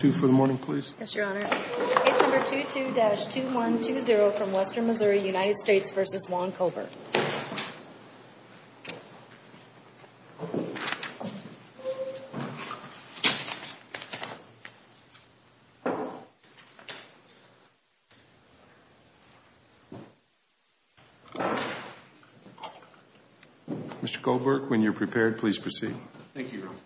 Mr. Colbert, when you're prepared, please proceed. Thank you, Your Honor.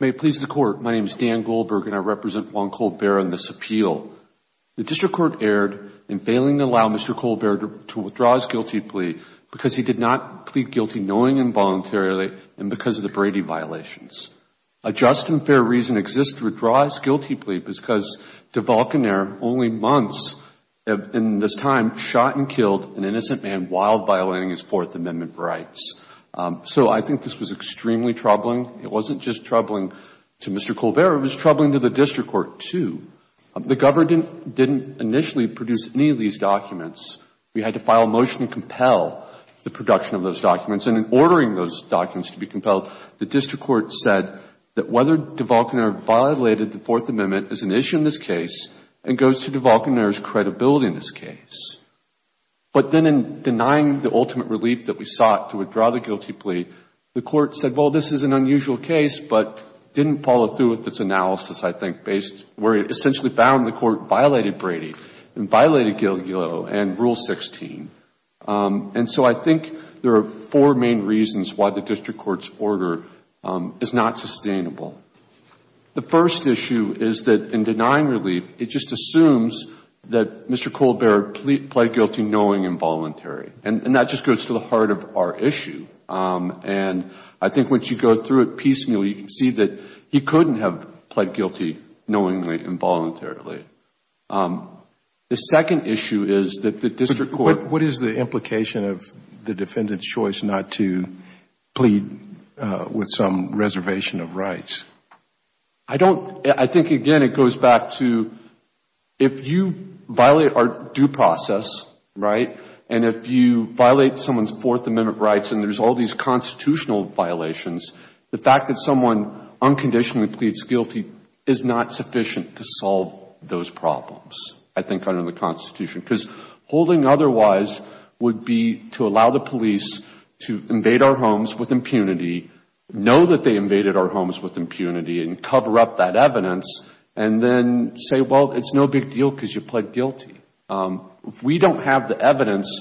May it please the Court, my name is Dan Goldberg and I represent Juan Colbert on this appeal. The District Court erred in failing to allow Mr. Colbert to withdraw his guilty plea because he did not plead guilty knowing involuntarily and because of the Brady violations. A just and fair reason exists to withdraw his guilty plea because DeVolcanair, only months in this time, shot and killed an innocent man while violating his Fourth Amendment rights. So I think this was extremely troubling. It wasn't just troubling to Mr. Colbert, it was troubling to the District Court, too. The government didn't initially produce any of these documents. We had to file a motion to compel the production of those documents. And in ordering those documents to be compelled, the District Court said that whether DeVolcanair violated the Fourth Amendment is an issue in this case and goes to DeVolcanair's credibility in this case. But then in denying the ultimate relief that we sought to withdraw the guilty plea, the Court said, well, this is an unusual case, but didn't follow through with its analysis, I think, based where it essentially found the Court violated Brady and violated Rule 16. And so I think there are four main reasons why the District Court's order is not sustainable. The first issue is that in denying relief, it just assumes that Mr. Colbert pled guilty knowingly and voluntarily. And that just goes to the heart of our issue. And I think once you go through it piecemeal, you can see that he couldn't have pled guilty knowingly and voluntarily. The second issue is that the District Court... But what is the implication of the defendant's choice not to plead with some reservation of rights? I don't... I think, again, it goes back to if you violate our due process, right, and if you violate someone's Fourth Amendment rights and there's all these constitutional violations, the fact that someone unconditionally pleads guilty is not sufficient to solve those problems, I think, under the Constitution. Because holding otherwise would be to allow the police to invade our homes with impunity, know that they invaded our homes with impunity, and cover up that evidence, and then say, well, it's no big deal because you pled guilty. We don't have the evidence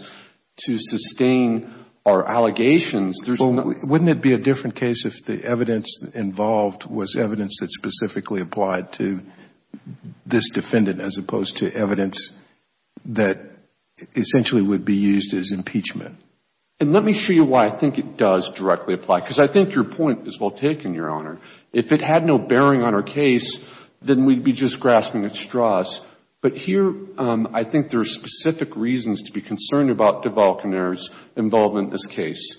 to sustain our allegations. There's no... Well, wouldn't it be a different case if the evidence involved was evidence that specifically applied to this defendant as opposed to evidence that essentially would be used as impeachment? Let me show you why I think it does directly apply because I think your point is well taken, Your Honor. If it had no bearing on our case, then we'd be just grasping at straws. But here, I think there are specific reasons to be concerned about DeVal Canaire's involvement in this case.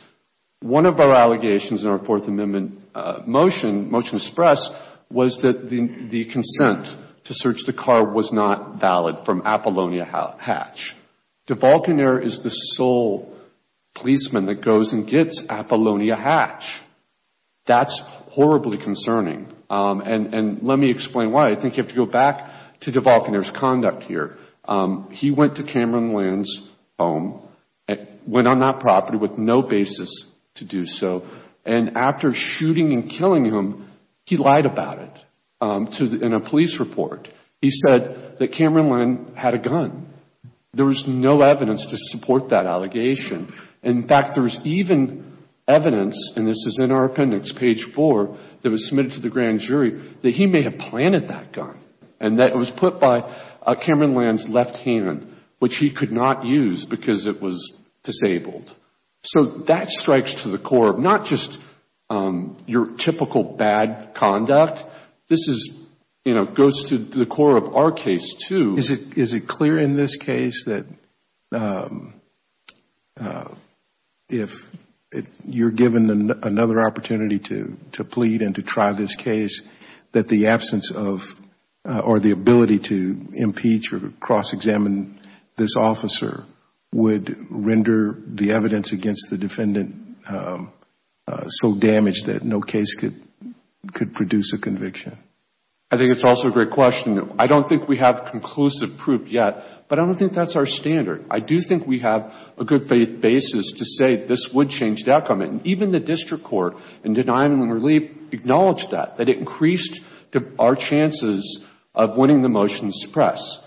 One of our allegations in our Fourth Amendment motion, motion express, was that the consent to search the car was not valid from Apolonia Hatch. DeVal Canaire is the sole policeman that goes and gets Apolonia Hatch. That's horribly concerning. And let me explain why. I think you have to go back to DeVal Canaire's conduct here. He went to Cameron Land's home, went on that property with no basis to do so, and after shooting and killing him, he lied about it in a police report. He said that Cameron Land had a gun. There was no evidence to support that allegation. In fact, there was even evidence, and this is in our appendix, page four, that was submitted to the grand jury, that he may have planted that gun. And that it was put by Cameron Land's left hand, which he could not use because it was disabled. So that strikes to the core of not just your typical bad conduct. This goes to the core of our case, too. Is it clear in this case that if you're given another opportunity to plead and to try this case, that the absence of, or the ability to impeach or cross-examine this officer would render the evidence against the defendant so damaged that no case could produce a conviction? I think it's also a great question. I don't think we have conclusive proof yet, but I don't think that's our standard. I do think we have a good basis to say this would change the outcome. And even the district court in denial and relief acknowledged that, that it increased our chances of winning the motion to suppress.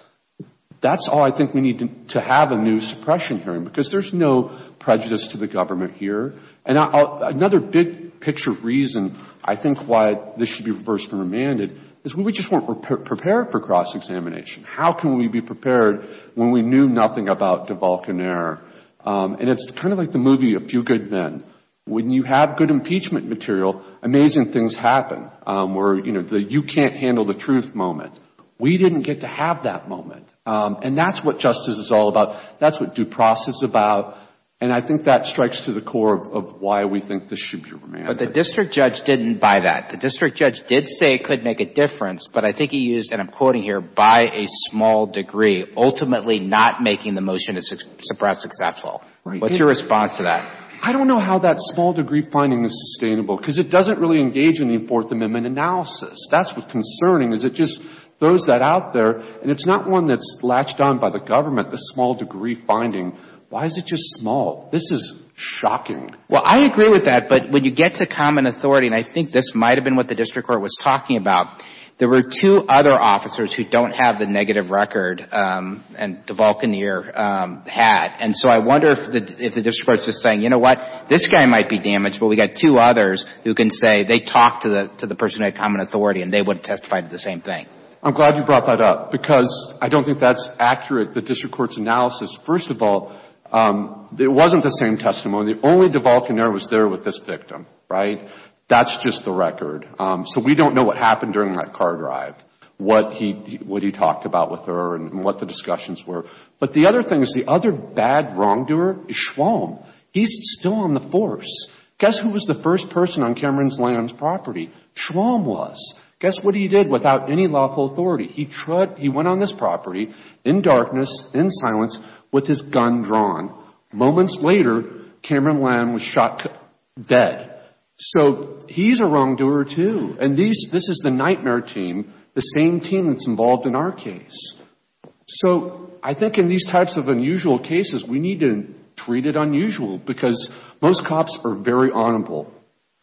That's all I think we need to have a new suppression hearing, because there's no prejudice to the government here. And another big picture reason I think why this should be reversed and remanded is we just weren't prepared for cross-examination. How can we be prepared when we knew nothing about DeVolcan Air? And it's kind of like the movie A Few Good Men. When you have good impeachment material, amazing things happen, where you can't handle the truth moment. We didn't get to have that moment, and that's what justice is all about. That's what due process is about, and I think that strikes to the core of why we think this should be remanded. But the district judge didn't buy that. The district judge did say it could make a difference, but I think he used, and I'm quoting here, by a small degree, ultimately not making the motion to suppress successful. What's your response to that? I don't know how that small degree finding is sustainable, because it doesn't really engage in the Fourth Amendment analysis. That's what's concerning, is it just throws that out there, and it's not one that's latched on by the government, the small degree finding. Why is it just small? This is shocking. Well, I agree with that, but when you get to common authority, and I think this might I'm glad you brought that up, because I don't think that's accurate, the district court's analysis. First of all, it wasn't the same testimony. The only divulcaneer was there with this victim, right? That's just the record. So we don't know what happened during that car drive, what he talked about with her and what the discussions were. But the other thing is the other bad wrongdoer is Schwamm. He's still on the force. Guess who was the first person on Cameron Lamb's property? Schwamm was. Guess what he did without any lawful authority? He went on this property in darkness, in silence, with his gun drawn. Moments later, Cameron Lamb was shot dead. So he's a wrongdoer, too. And this is the nightmare team, the same team that's involved in our case. So I think in these types of unusual cases, we need to treat it unusual, because most cops are very honorable,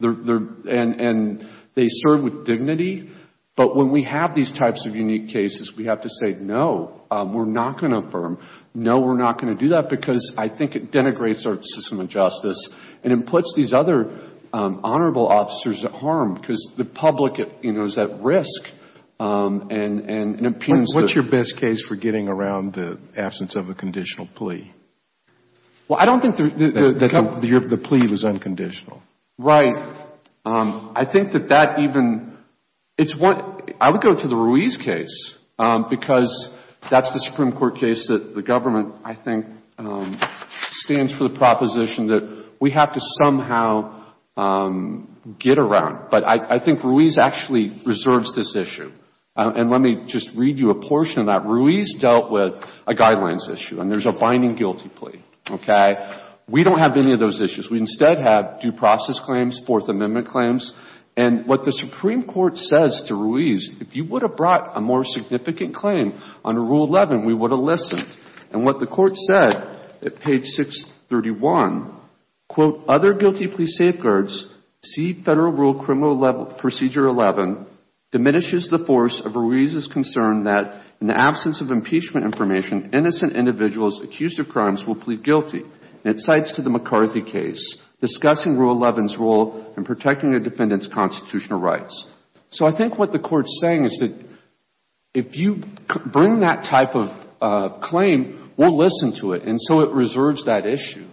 and they serve with dignity. But when we have these types of unique cases, we have to say, no, we're not going to affirm. No, we're not going to do that, because I think it denigrates our system of justice and it puts these other honorable officers at harm, because the public is at risk and impugns the... What's your best case for getting around the absence of a conditional plea? Well, I don't think the... The plea was unconditional. Right. I think that that even... I would go to the Ruiz case, because that's the Supreme Court's proposition that we have to somehow get around. But I think Ruiz actually reserves this issue. And let me just read you a portion of that. Ruiz dealt with a guidelines issue, and there's a binding guilty plea. Okay? We don't have any of those issues. We instead have due process claims, Fourth Amendment claims. And what the Supreme Court says to Ruiz, if you would have brought a more significant claim under Rule 11, we would have listened. And what the Court said at page 631, quote, other guilty plea safeguards, see Federal Rule Criminal Procedure 11, diminishes the force of Ruiz's concern that in the absence of impeachment information, innocent individuals accused of crimes will plead guilty. And it cites to the McCarthy case, discussing Rule 11's role in protecting a defendant's constitutional rights. So I think what the Court's saying is that if you bring that type of claim, we'll listen to it. And so it reserves that issue.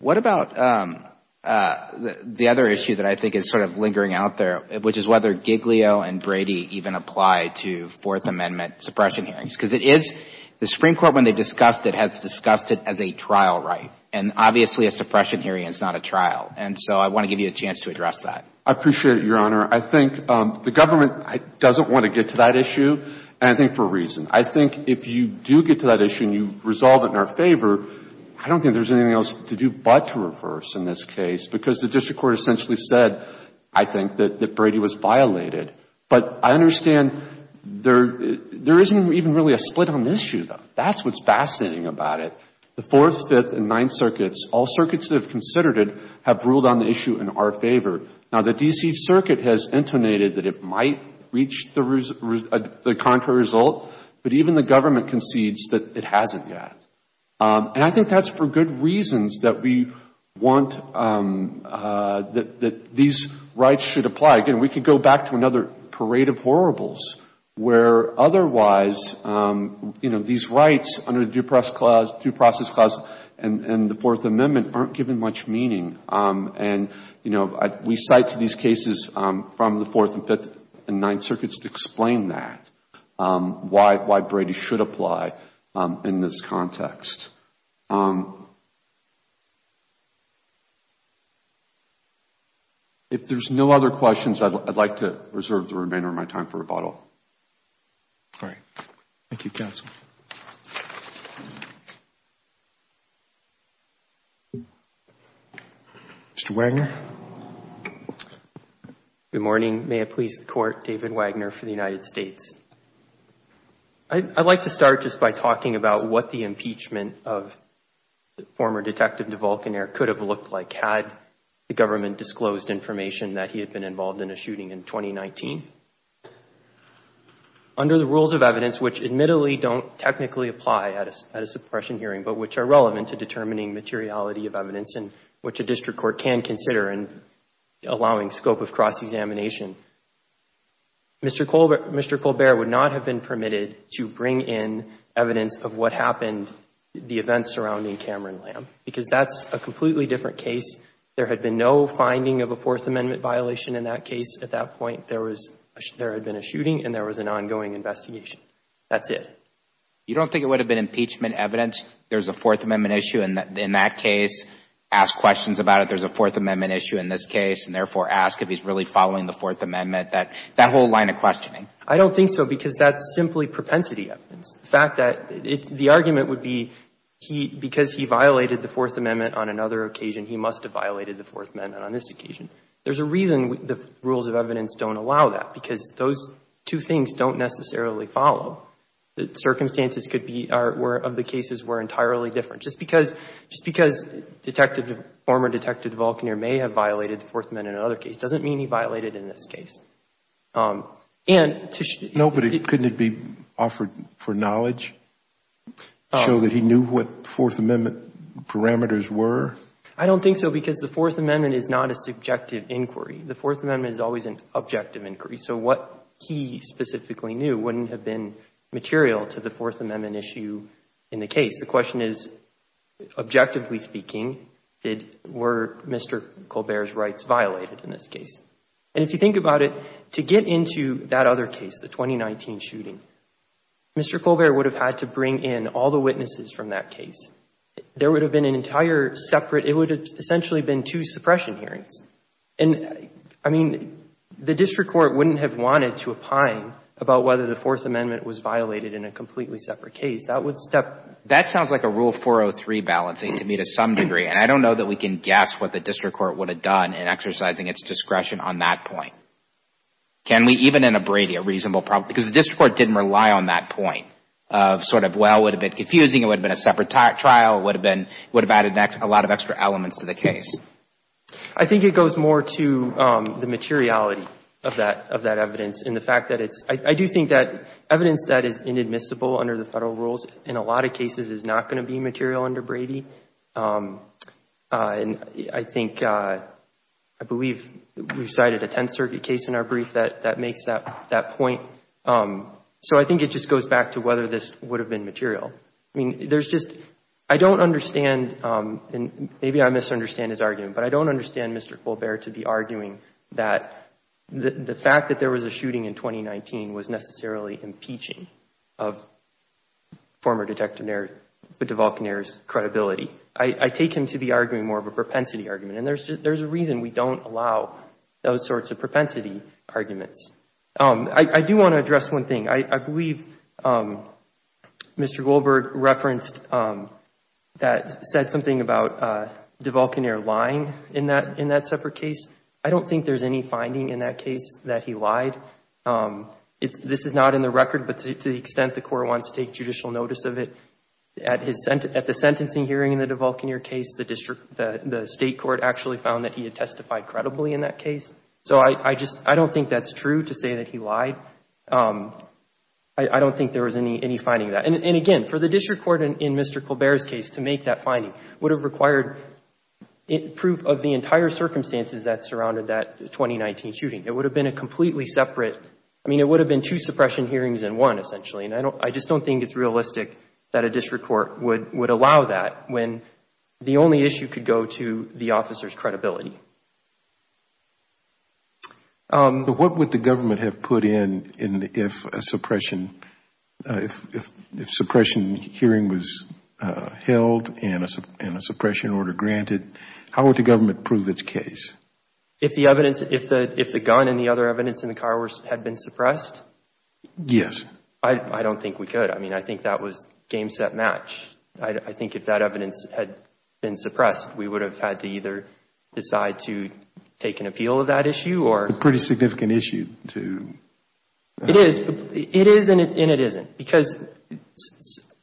What about the other issue that I think is sort of lingering out there, which is whether Giglio and Brady even apply to Fourth Amendment suppression hearings? Because it is... the Supreme Court, when they discussed it, has discussed it as a trial right. And obviously, a suppression hearing is not a trial. And so I want to give you a chance to address that. I appreciate it, Your Honor. I think the government doesn't want to get to that issue, and I think for a reason. I think if you do get to that issue and you resolve it in our favor, I don't think there's anything else to do but to reverse in this case, because the district court essentially said, I think, that Brady was violated. But I understand there isn't even really a split on the issue, though. That's what's fascinating about it. The Fourth, Fifth, and Ninth Circuits, all circuits that have considered it, have ruled on the issue in our favor. Now, the D.C. Circuit has intonated that it might reach the contrary result, but even the government concedes that it hasn't yet. And I think that's for good reasons that we want... that these rights should apply. Again, we could go back to another parade of horribles, where otherwise, you know, these rights under the Due Process Clause and the Fourth Amendment aren't given much meaning. And, you know, we cite these cases from the Fourth, Fifth, and Ninth Circuits to explain that, why Brady should apply in this context. If there's no other questions, I'd like to reserve the remainder of my time for rebuttal. All right. Thank you, counsel. Mr. Wagner? Good morning. May it please the Court, David Wagner for the United States. I'd like to start just by talking about what the impeachment of former Detective DeVolcanaire could have looked like had the government disclosed information that he had been involved in a shooting in 2019. Under the rules of evidence, which admittedly don't technically apply at a suppression hearing, but which are relevant to determining materiality of evidence and which a district court can consider in allowing scope of cross-examination, Mr. Colbert would not have been permitted to bring in evidence of what happened, the events surrounding Cameron Lamb, because that's a completely different case. There had been no finding of a Fourth Amendment violation in that case at that point. There had been a shooting and there was an ongoing investigation. That's it. You don't think it would have been impeachment evidence? There's a Fourth Amendment issue in that case. Ask questions about it. There's a Fourth Amendment issue in this case, and therefore ask if he's really following the Fourth Amendment, that whole line of questioning. I don't think so, because that's simply propensity evidence. The fact that the argument would be because he violated the Fourth Amendment on another occasion, he must have violated the Fourth Amendment on this occasion. There's a reason the rules of evidence don't allow that, because those two things don't necessarily follow. The circumstances could be, of the cases, were entirely different. Just because Detective, former Detective DeVolcaneer may have violated the Fourth Amendment on another case doesn't mean he violated it in this case. And to show that he knew what the Fourth Amendment parameters were. I don't think so, because the Fourth Amendment is not a subjective inquiry. The Fourth Amendment is always an objective inquiry. So what he specifically knew wouldn't have been material to the Fourth Amendment issue in the case. The question is, objectively speaking, were Mr. Colbert's rights violated in this case? And if you think about it, to get into that other case, the 2019 shooting, Mr. Colbert would have had to bring in all the witnesses from that case. There would have been an entire separate, it would have essentially been two suppression hearings. And, I mean, the district court wouldn't have wanted to opine about whether the Fourth Amendment was violated in a completely separate case. That would step. That sounds like a Rule 403 balancing to me to some degree. And I don't know that we can guess what the district court would have done in exercising its discretion on that point. Can we even abrade a reasonable problem? Because the district court didn't rely on that point of sort of, well, it would have been confusing, it would have been a separate trial, it would have added a lot of extra elements to the case. I think it goes more to the materiality of that evidence. And the fact that it's, I do think that evidence that is inadmissible under the Federal rules in a lot of cases is not going to be material under Brady. And I think, I believe we cited a Tenth Circuit case in our brief that makes that point. So I think it just goes back to whether this would have been material. I mean, there's just, I don't understand, and maybe I misunderstand his argument, but I don't understand Mr. Colbert to be arguing that the fact that there was a shooting in 2019 was necessarily impeaching of former Detective DeVolcanair's credibility. I take him to be arguing more of a propensity argument. And there's a reason we don't allow those sorts of propensity arguments. I do want to address one thing. I believe Mr. Goldberg referenced that, said something about DeVolcanair lying in that separate case. I don't think there's any finding in that case that he lied. This is not in the record, but to the extent the court wants to take judicial notice of it, at the sentencing hearing in the DeVolcanair case, the state court actually found that he had testified credibly in that case. So I just, I don't think that's true to say that he lied. I don't think there was any finding of that. And again, for the district court in Mr. Colbert's case to make that finding would have required proof of the entire circumstances that surrounded that 2019 shooting. It would have been a completely separate, I mean, it would have been two suppression hearings in one, essentially. And I just don't think it's realistic that a district court would allow that when the only issue could go to the officer's credibility. But what would the government have put in if a suppression hearing was held and a suppression order granted? How would the government prove its case? If the evidence, if the gun and the other evidence in the car had been suppressed? Yes. I don't think we could. I mean, I think that was game, set, match. I think if that evidence had been suppressed, we would have had to either decide to take an appeal of that issue or. A pretty significant issue to. It is. It is and it isn't. Because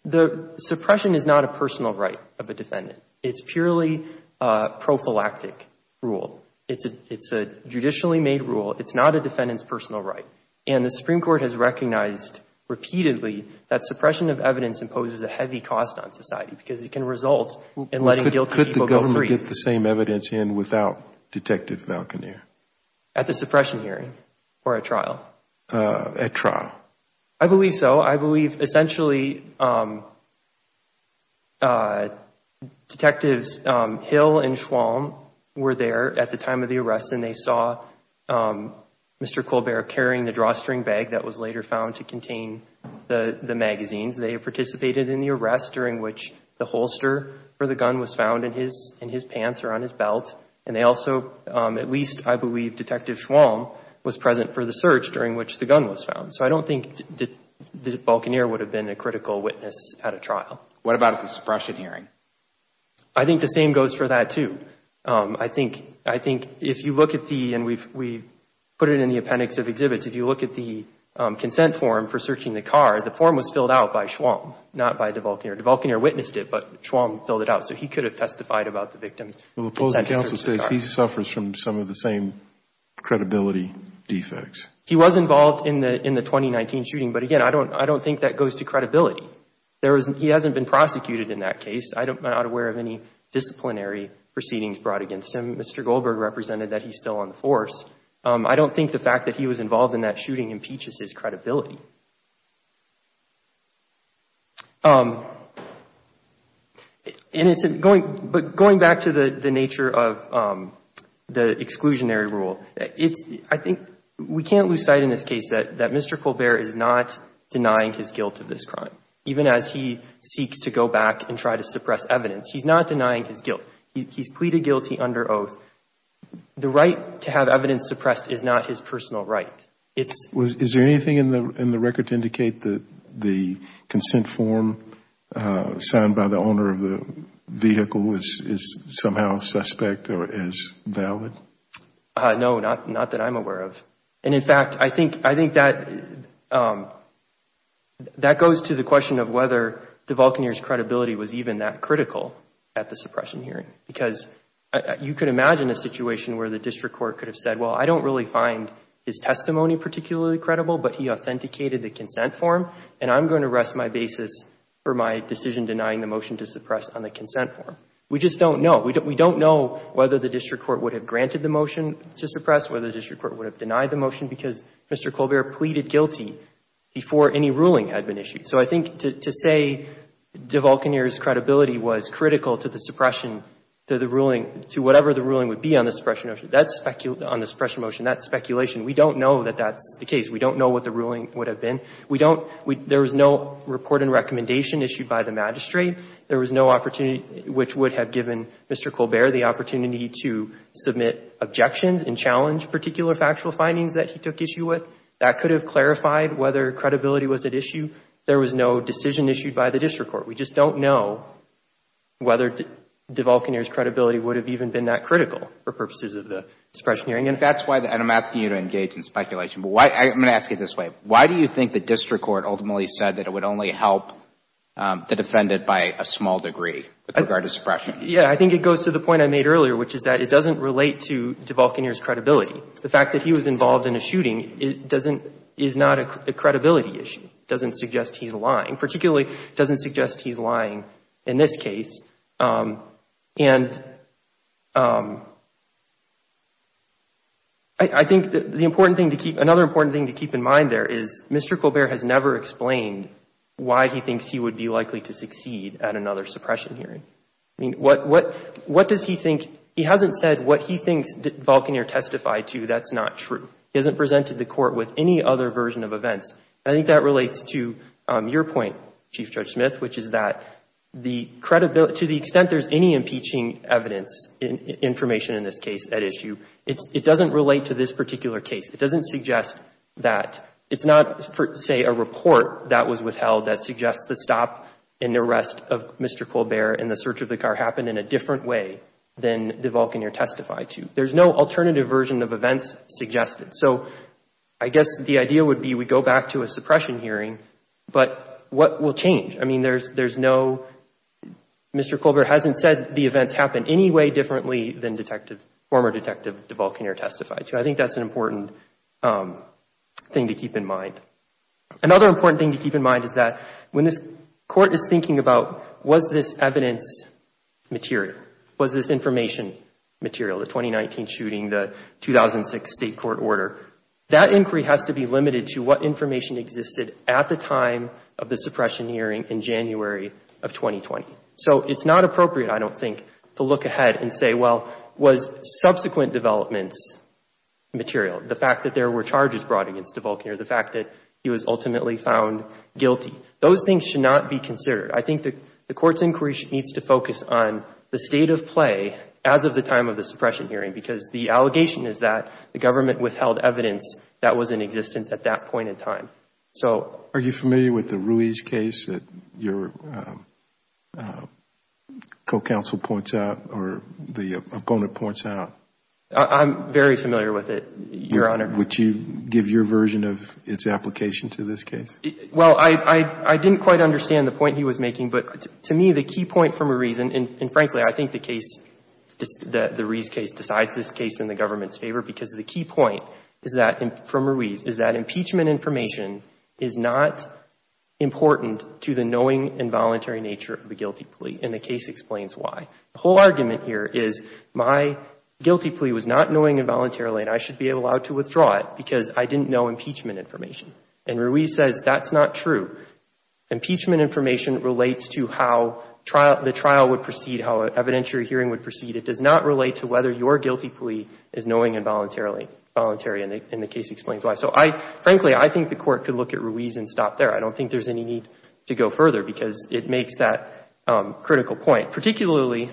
the suppression is not a personal right of a defendant. It's purely a prophylactic rule. It's a judicially made rule. It's not a defendant's personal right. And the Supreme Court has recognized repeatedly that suppression of evidence imposes a heavy cost on society because it can result in letting guilty people go free. Could the government get the same evidence in without Detective Valconeer? At the suppression hearing or at trial? At trial. I believe so. I believe essentially Detectives Hill and Schwalm were there at the time of the arrest and they saw Mr. Colbert carrying the drawstring bag that was later found to contain the magazines. They participated in the arrest during which the holster for the gun was found in his pants or on his belt. And they also, at least I believe Detective Schwalm, was present for the search during which the gun was found. So I don't think that Valconeer would have been a critical witness at a trial. What about at the suppression hearing? I think the same goes for that too. I think if you look at the, and we put it in the appendix of exhibits, if you look at the consent form for searching the car, the form was filled out by Schwalm, not by DeValconeer. DeValconeer witnessed it, but Schwalm filled it out. So he could have testified about the victim. Well, the opposing counsel says he suffers from some of the same credibility defects. He was involved in the 2019 shooting, but again, I don't think that goes to credibility. He hasn't been prosecuted in that case. I'm not aware of any disciplinary proceedings brought against him. Mr. Goldberg represented that he's still on the force. I don't think the fact that he was involved in that shooting impeaches his credibility. But going back to the nature of the exclusionary rule, I think we can't lose sight in this case that Mr. Goldberg is not denying his guilt of this crime, even as he seeks to go back and try to suppress evidence. He's not denying his guilt. He's pleaded guilty under oath. The right to have evidence suppressed is not his personal right. Is there anything in the record to indicate that the consent form signed by the owner of the vehicle is somehow suspect or is valid? No, not that I'm aware of. In fact, I think that goes to the question of whether DeValconeer's credibility was even that critical at the suppression hearing. Because you could imagine a situation where the district court could have said, well, I don't really find his testimony particularly credible, but he authenticated the consent form, and I'm going to rest my basis for my decision denying the motion to suppress on the consent form. We just don't know. We don't know whether the district court would have granted the motion to suppress, whether the district court would have denied the motion, because Mr. Goldberg pleaded guilty before any ruling had been issued. So I think to say DeValconeer's credibility was critical to the suppression, to whatever the ruling would be on the suppression motion, that's speculation. We don't know that that's the case. We don't know what the ruling would have been. There was no report and recommendation issued by the magistrate. There was no opportunity which would have given Mr. Colbert the opportunity to submit objections and challenge particular factual findings that he took issue with. That could have clarified whether credibility was at issue. There was no decision issued by the district court. We just don't know whether DeValconeer's credibility would have even been that critical for purposes of the suppression hearing. And that's why the – and I'm asking you to engage in speculation. But why – I'm going to ask you this way. Why do you think the district court ultimately said that it would only help the defendant by a small degree with regard to suppression? Yeah, I think it goes to the point I made earlier, which is that it doesn't relate to DeValconeer's credibility. The fact that he was involved in a shooting doesn't – is not a credibility issue. It doesn't suggest he's lying, particularly it doesn't suggest he's lying in this case. And I think the important thing to keep – another important thing to keep in mind there is Mr. Colbert has never explained why he thinks he would be likely to succeed at another suppression hearing. I mean, what does he think – he hasn't said what he thinks DeValconeer testified to. That's not true. He hasn't presented the court with any other version of events. I think that relates to your point, Chief Judge Smith, which is that the credibility – to the extent there's any impeaching evidence, information in this case, that issue, it doesn't relate to this particular case. It doesn't suggest that – it's not, say, a report that was withheld that suggests the stop and arrest of Mr. Colbert and the search of the car happened in a different way than DeValconeer testified to. There's no alternative version of events suggested. So I guess the idea would be we go back to a suppression hearing, but what will change? I mean, there's no – Mr. Colbert hasn't said the events happened any way differently than former Detective DeValconeer testified to. I think that's an important thing to keep in mind. Another important thing to keep in mind is that when this court is thinking about was this evidence material, was this information material, the 2019 shooting, the 2006 state court order, that inquiry has to be limited to what information existed at the time of the suppression hearing in January of 2020. So it's not appropriate, I don't think, to look ahead and say, well, was subsequent developments material, the fact that there were charges brought against DeValconeer, the fact that he was ultimately found guilty. Those things should not be considered. I think the Court's inquiry needs to focus on the state of play as of the time of the suppression hearing, because the allegation is that the government withheld evidence that was in existence at that point in time. So – Are you familiar with the Ruiz case that your co-counsel points out or the opponent points out? I'm very familiar with it, Your Honor. Would you give your version of its application to this case? Well, I didn't quite understand the point he was making, but to me, the key point from Ruiz, and frankly, I think the Ruiz case decides this case in the government's favor, because the key point from Ruiz is that impeachment information is not important to the knowing and voluntary nature of the guilty plea, and the case explains why. The whole argument here is my guilty plea was not knowing involuntarily, and I should be allowed to withdraw it because I didn't know impeachment information. And Ruiz says that's not true. Impeachment information relates to how the trial would proceed, how evidentiary hearing would proceed. It does not relate to whether your guilty plea is knowing and voluntary, and the case explains why. So, frankly, I think the Court could look at Ruiz and stop there. I don't think there's any need to go further, because it makes that critical point, particularly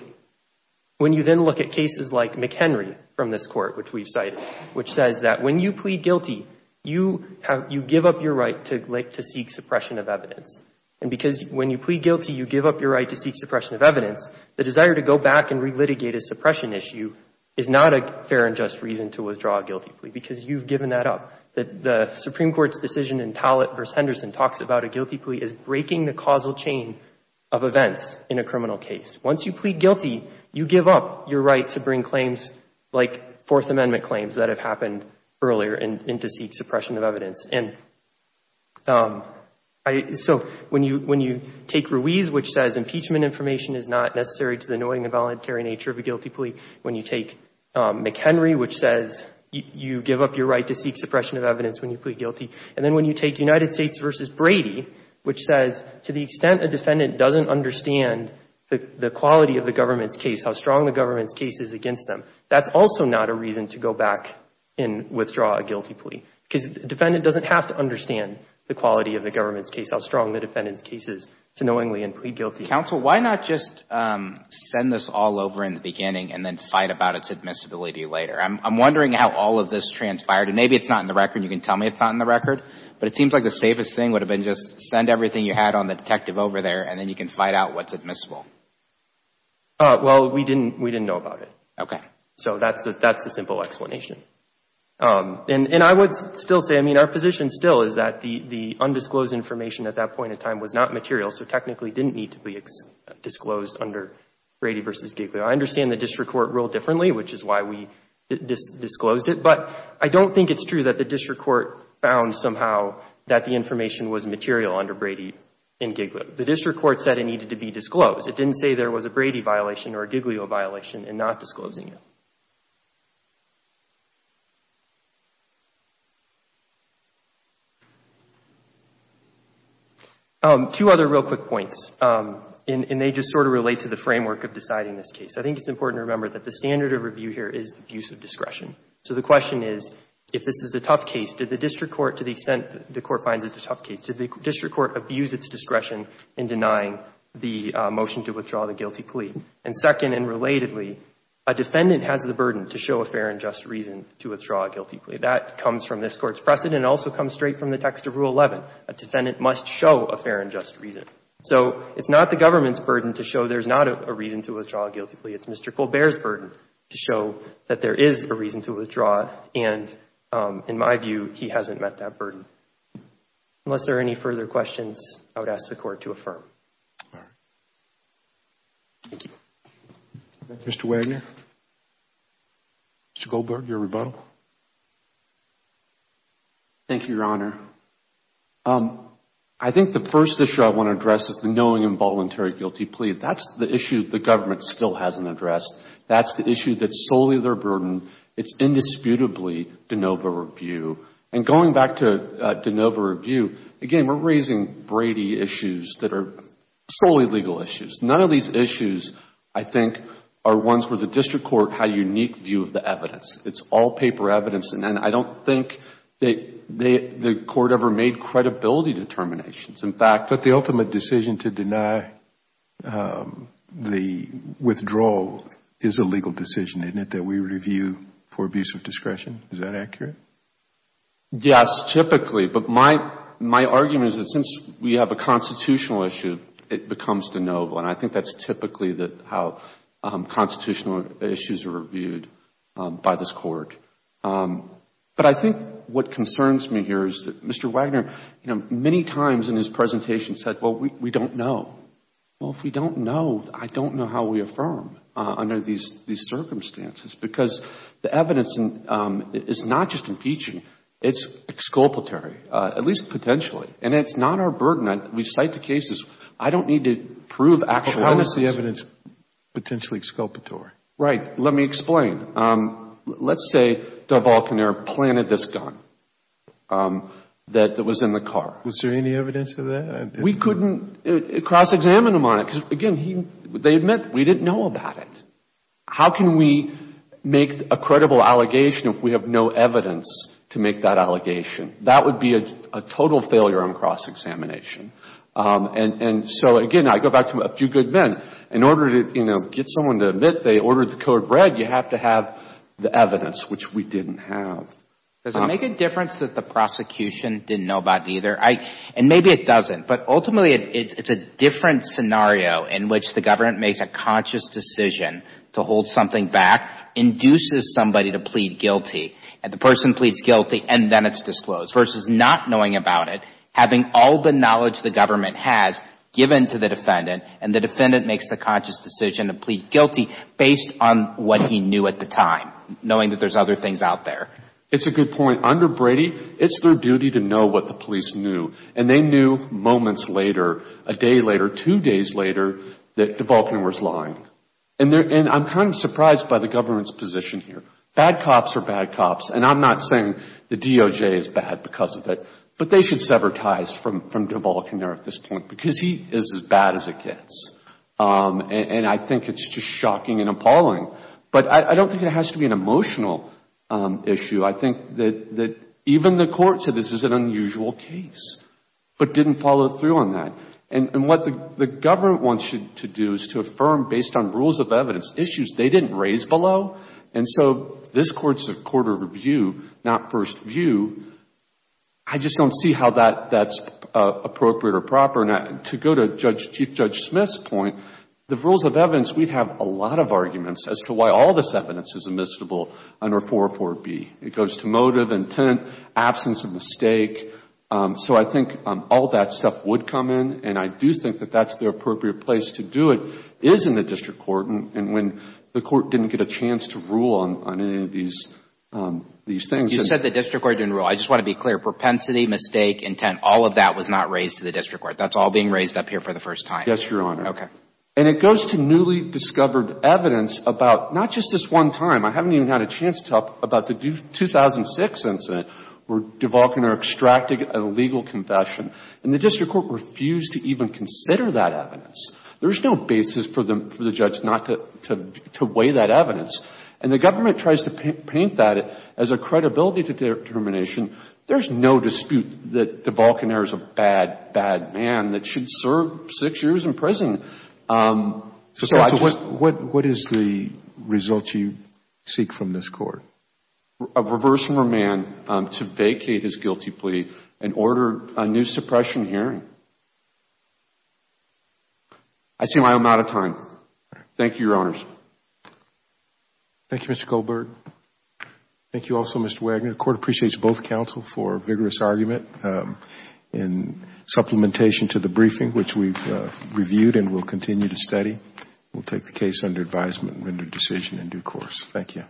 when you then look at cases like McHenry from this Court, which we've cited, which says that when you plead guilty, you give up your right to seek suppression of evidence. And because when you plead guilty, you give up your right to seek suppression of evidence, the desire to go back and relitigate a suppression issue is not a fair and just reason to withdraw a guilty plea, because you've given that up. The Supreme Court's decision in Tallet v. Henderson talks about a guilty plea as breaking the causal chain of events in a criminal case. Once you plead guilty, you give up your right to bring claims like Fourth Amendment claims that have happened earlier and to seek suppression of evidence. And so when you take Ruiz, which says impeachment information is not necessary to the knowing and voluntary nature of a guilty plea, when you take McHenry, which says you give up your right to seek suppression of evidence when you plead guilty, and then when you take United States v. Brady, which says to the extent a defendant doesn't understand the quality of the government's case, how strong the government's case is against them, that's also not a reason to go back and withdraw a guilty plea. Because the defendant doesn't have to understand the quality of the government's case, how strong the defendant's case is to knowingly and plead guilty. Counsel, why not just send this all over in the beginning and then fight about its admissibility later? I'm wondering how all of this transpired. And maybe it's not in the record. You can tell me it's not in the record. But it seems like the safest thing would have been just send everything you had on the detective over there, and then you can fight out what's admissible. Well, we didn't know about it. Okay. So that's the simple explanation. And I would still say, I mean, our position still is that the undisclosed information at that point in time was not material, so technically didn't need to be disclosed under Brady v. Giglio. I understand the district court ruled differently, which is why we disclosed it. But I don't think it's true that the district court found somehow that the information was material under Brady and Giglio. The district court said it needed to be disclosed. It didn't say there was a Brady violation or a Giglio violation in not disclosing it. Two other real quick points, and they just sort of relate to the framework of deciding this case. I think it's important to remember that the standard of review here is abuse of discretion. So the question is, if this is a tough case, did the district court, to the extent the court finds it a tough case, did the district court abuse its discretion in denying the motion to withdraw the guilty plea? And second and relatedly, a defendant has the burden to show a fair and just reason to withdraw a guilty plea. That comes from this Court's precedent and also comes straight from the text of Rule 11. A defendant must show a fair and just reason. So it's not the government's burden to show there's not a reason to withdraw a guilty plea. It's Mr. Colbert's burden to show that there is a reason to withdraw, and in my view, he hasn't met that burden. Unless there are any further questions, I would ask the Court to affirm. Thank you. Mr. Wagner? Mr. Colbert, your rebuttal. Thank you, Your Honor. I think the first issue I want to address is the knowing involuntary guilty plea. That's the issue the government still hasn't addressed. That's the issue that's solely their burden. It's indisputably de novo review. And going back to de novo review, again, we're raising Brady issues that are solely legal issues. None of these issues, I think, are ones where the district court had a unique view of the evidence. It's all paper evidence, and I don't think the court ever made credibility determinations. In fact... But the ultimate decision to deny the withdrawal is a legal decision, isn't it, that we review for abuse of discretion? Is that accurate? Yes, typically. But my argument is that since we have a constitutional issue, it becomes de novo. And I think that's typically how constitutional issues are reviewed by this Court. But I think what concerns me here is that Mr. Wagner, you know, many times in his presentation said, well, we don't know. Well, if we don't know, I don't know how we affirm under these circumstances. Because the evidence is not just impeaching. It's exculpatory, at least potentially. And it's not our burden. We cite the cases. I don't need to prove actual... But how is the evidence potentially exculpatory? Right. Let me explain. Let's say Del Balconer planted this gun that was in the car. Was there any evidence of that? We couldn't cross-examine him on it. Because, again, they admit we didn't know about it. How can we make a credible allegation if we have no evidence to make that allegation? That would be a total failure on cross-examination. And so, again, I go back to a few good men. In order to, you know, get someone to admit they ordered the code read, you have to have the evidence, which we didn't have. Does it make a difference that the prosecution didn't know about either? And maybe it doesn't. But ultimately, it's a different scenario in which the government makes a conscious decision to hold something back, induces somebody to plead guilty, and the person pleads guilty, and then it's disclosed, versus not knowing about it, having all the knowledge the government has given to the defendant, and the defendant makes the conscious decision to plead guilty based on what he knew at the time, knowing that there's other things out there. It's a good point. Under Brady, it's their duty to know what the police knew. And they knew moments later, a day later, two days later, that DeBalkaner was lying. And I'm kind of surprised by the government's position here. Bad cops are bad cops. And I'm not saying the DOJ is bad because of it. But they should sever ties from DeBalkaner at this point because he is as bad as it gets. And I think it's just shocking and appalling. But I don't think it has to be an emotional issue. I think that even the Court said this is an unusual case, but didn't follow through on that. And what the government wants you to do is to affirm, based on rules of evidence, issues they didn't raise below. And so this Court's a court of review, not first view. I just don't see how that's appropriate or proper. To go to Chief Judge Smith's point, the rules of evidence, we have a lot of arguments as to why all this evidence is admissible under 404B. It goes to motive, intent, absence of mistake. So I think all that stuff would come in. And I do think that that's the appropriate place to do it is in the district court. And when the court didn't get a chance to rule on any of these things. You said the district court didn't rule. I just want to be clear. Propensity, mistake, intent, all of that was not raised to the district court. That's all being raised up here for the first time. Yes, Your Honor. Okay. And it goes to newly discovered evidence about not just this one time. I haven't even had a chance to talk about the 2006 incident where DeVolcaner extracted a legal confession. And the district court refused to even consider that evidence. There's no basis for the judge not to weigh that evidence. And the government tries to paint that as a credibility determination. There's no dispute that DeVolcaner is a bad, bad man that should serve six years in prison. So what is the result you seek from this court? A reverse remand to vacate his guilty plea and order a new suppression hearing. I see why I'm out of time. Thank you, Your Honors. Thank you, Mr. Goldberg. Thank you also, Mr. Wagner. The court appreciates both counsel for vigorous argument in supplementation to the briefing, which we've reviewed and will continue to study. We'll take the case under advisement and render decision in due course. Thank you.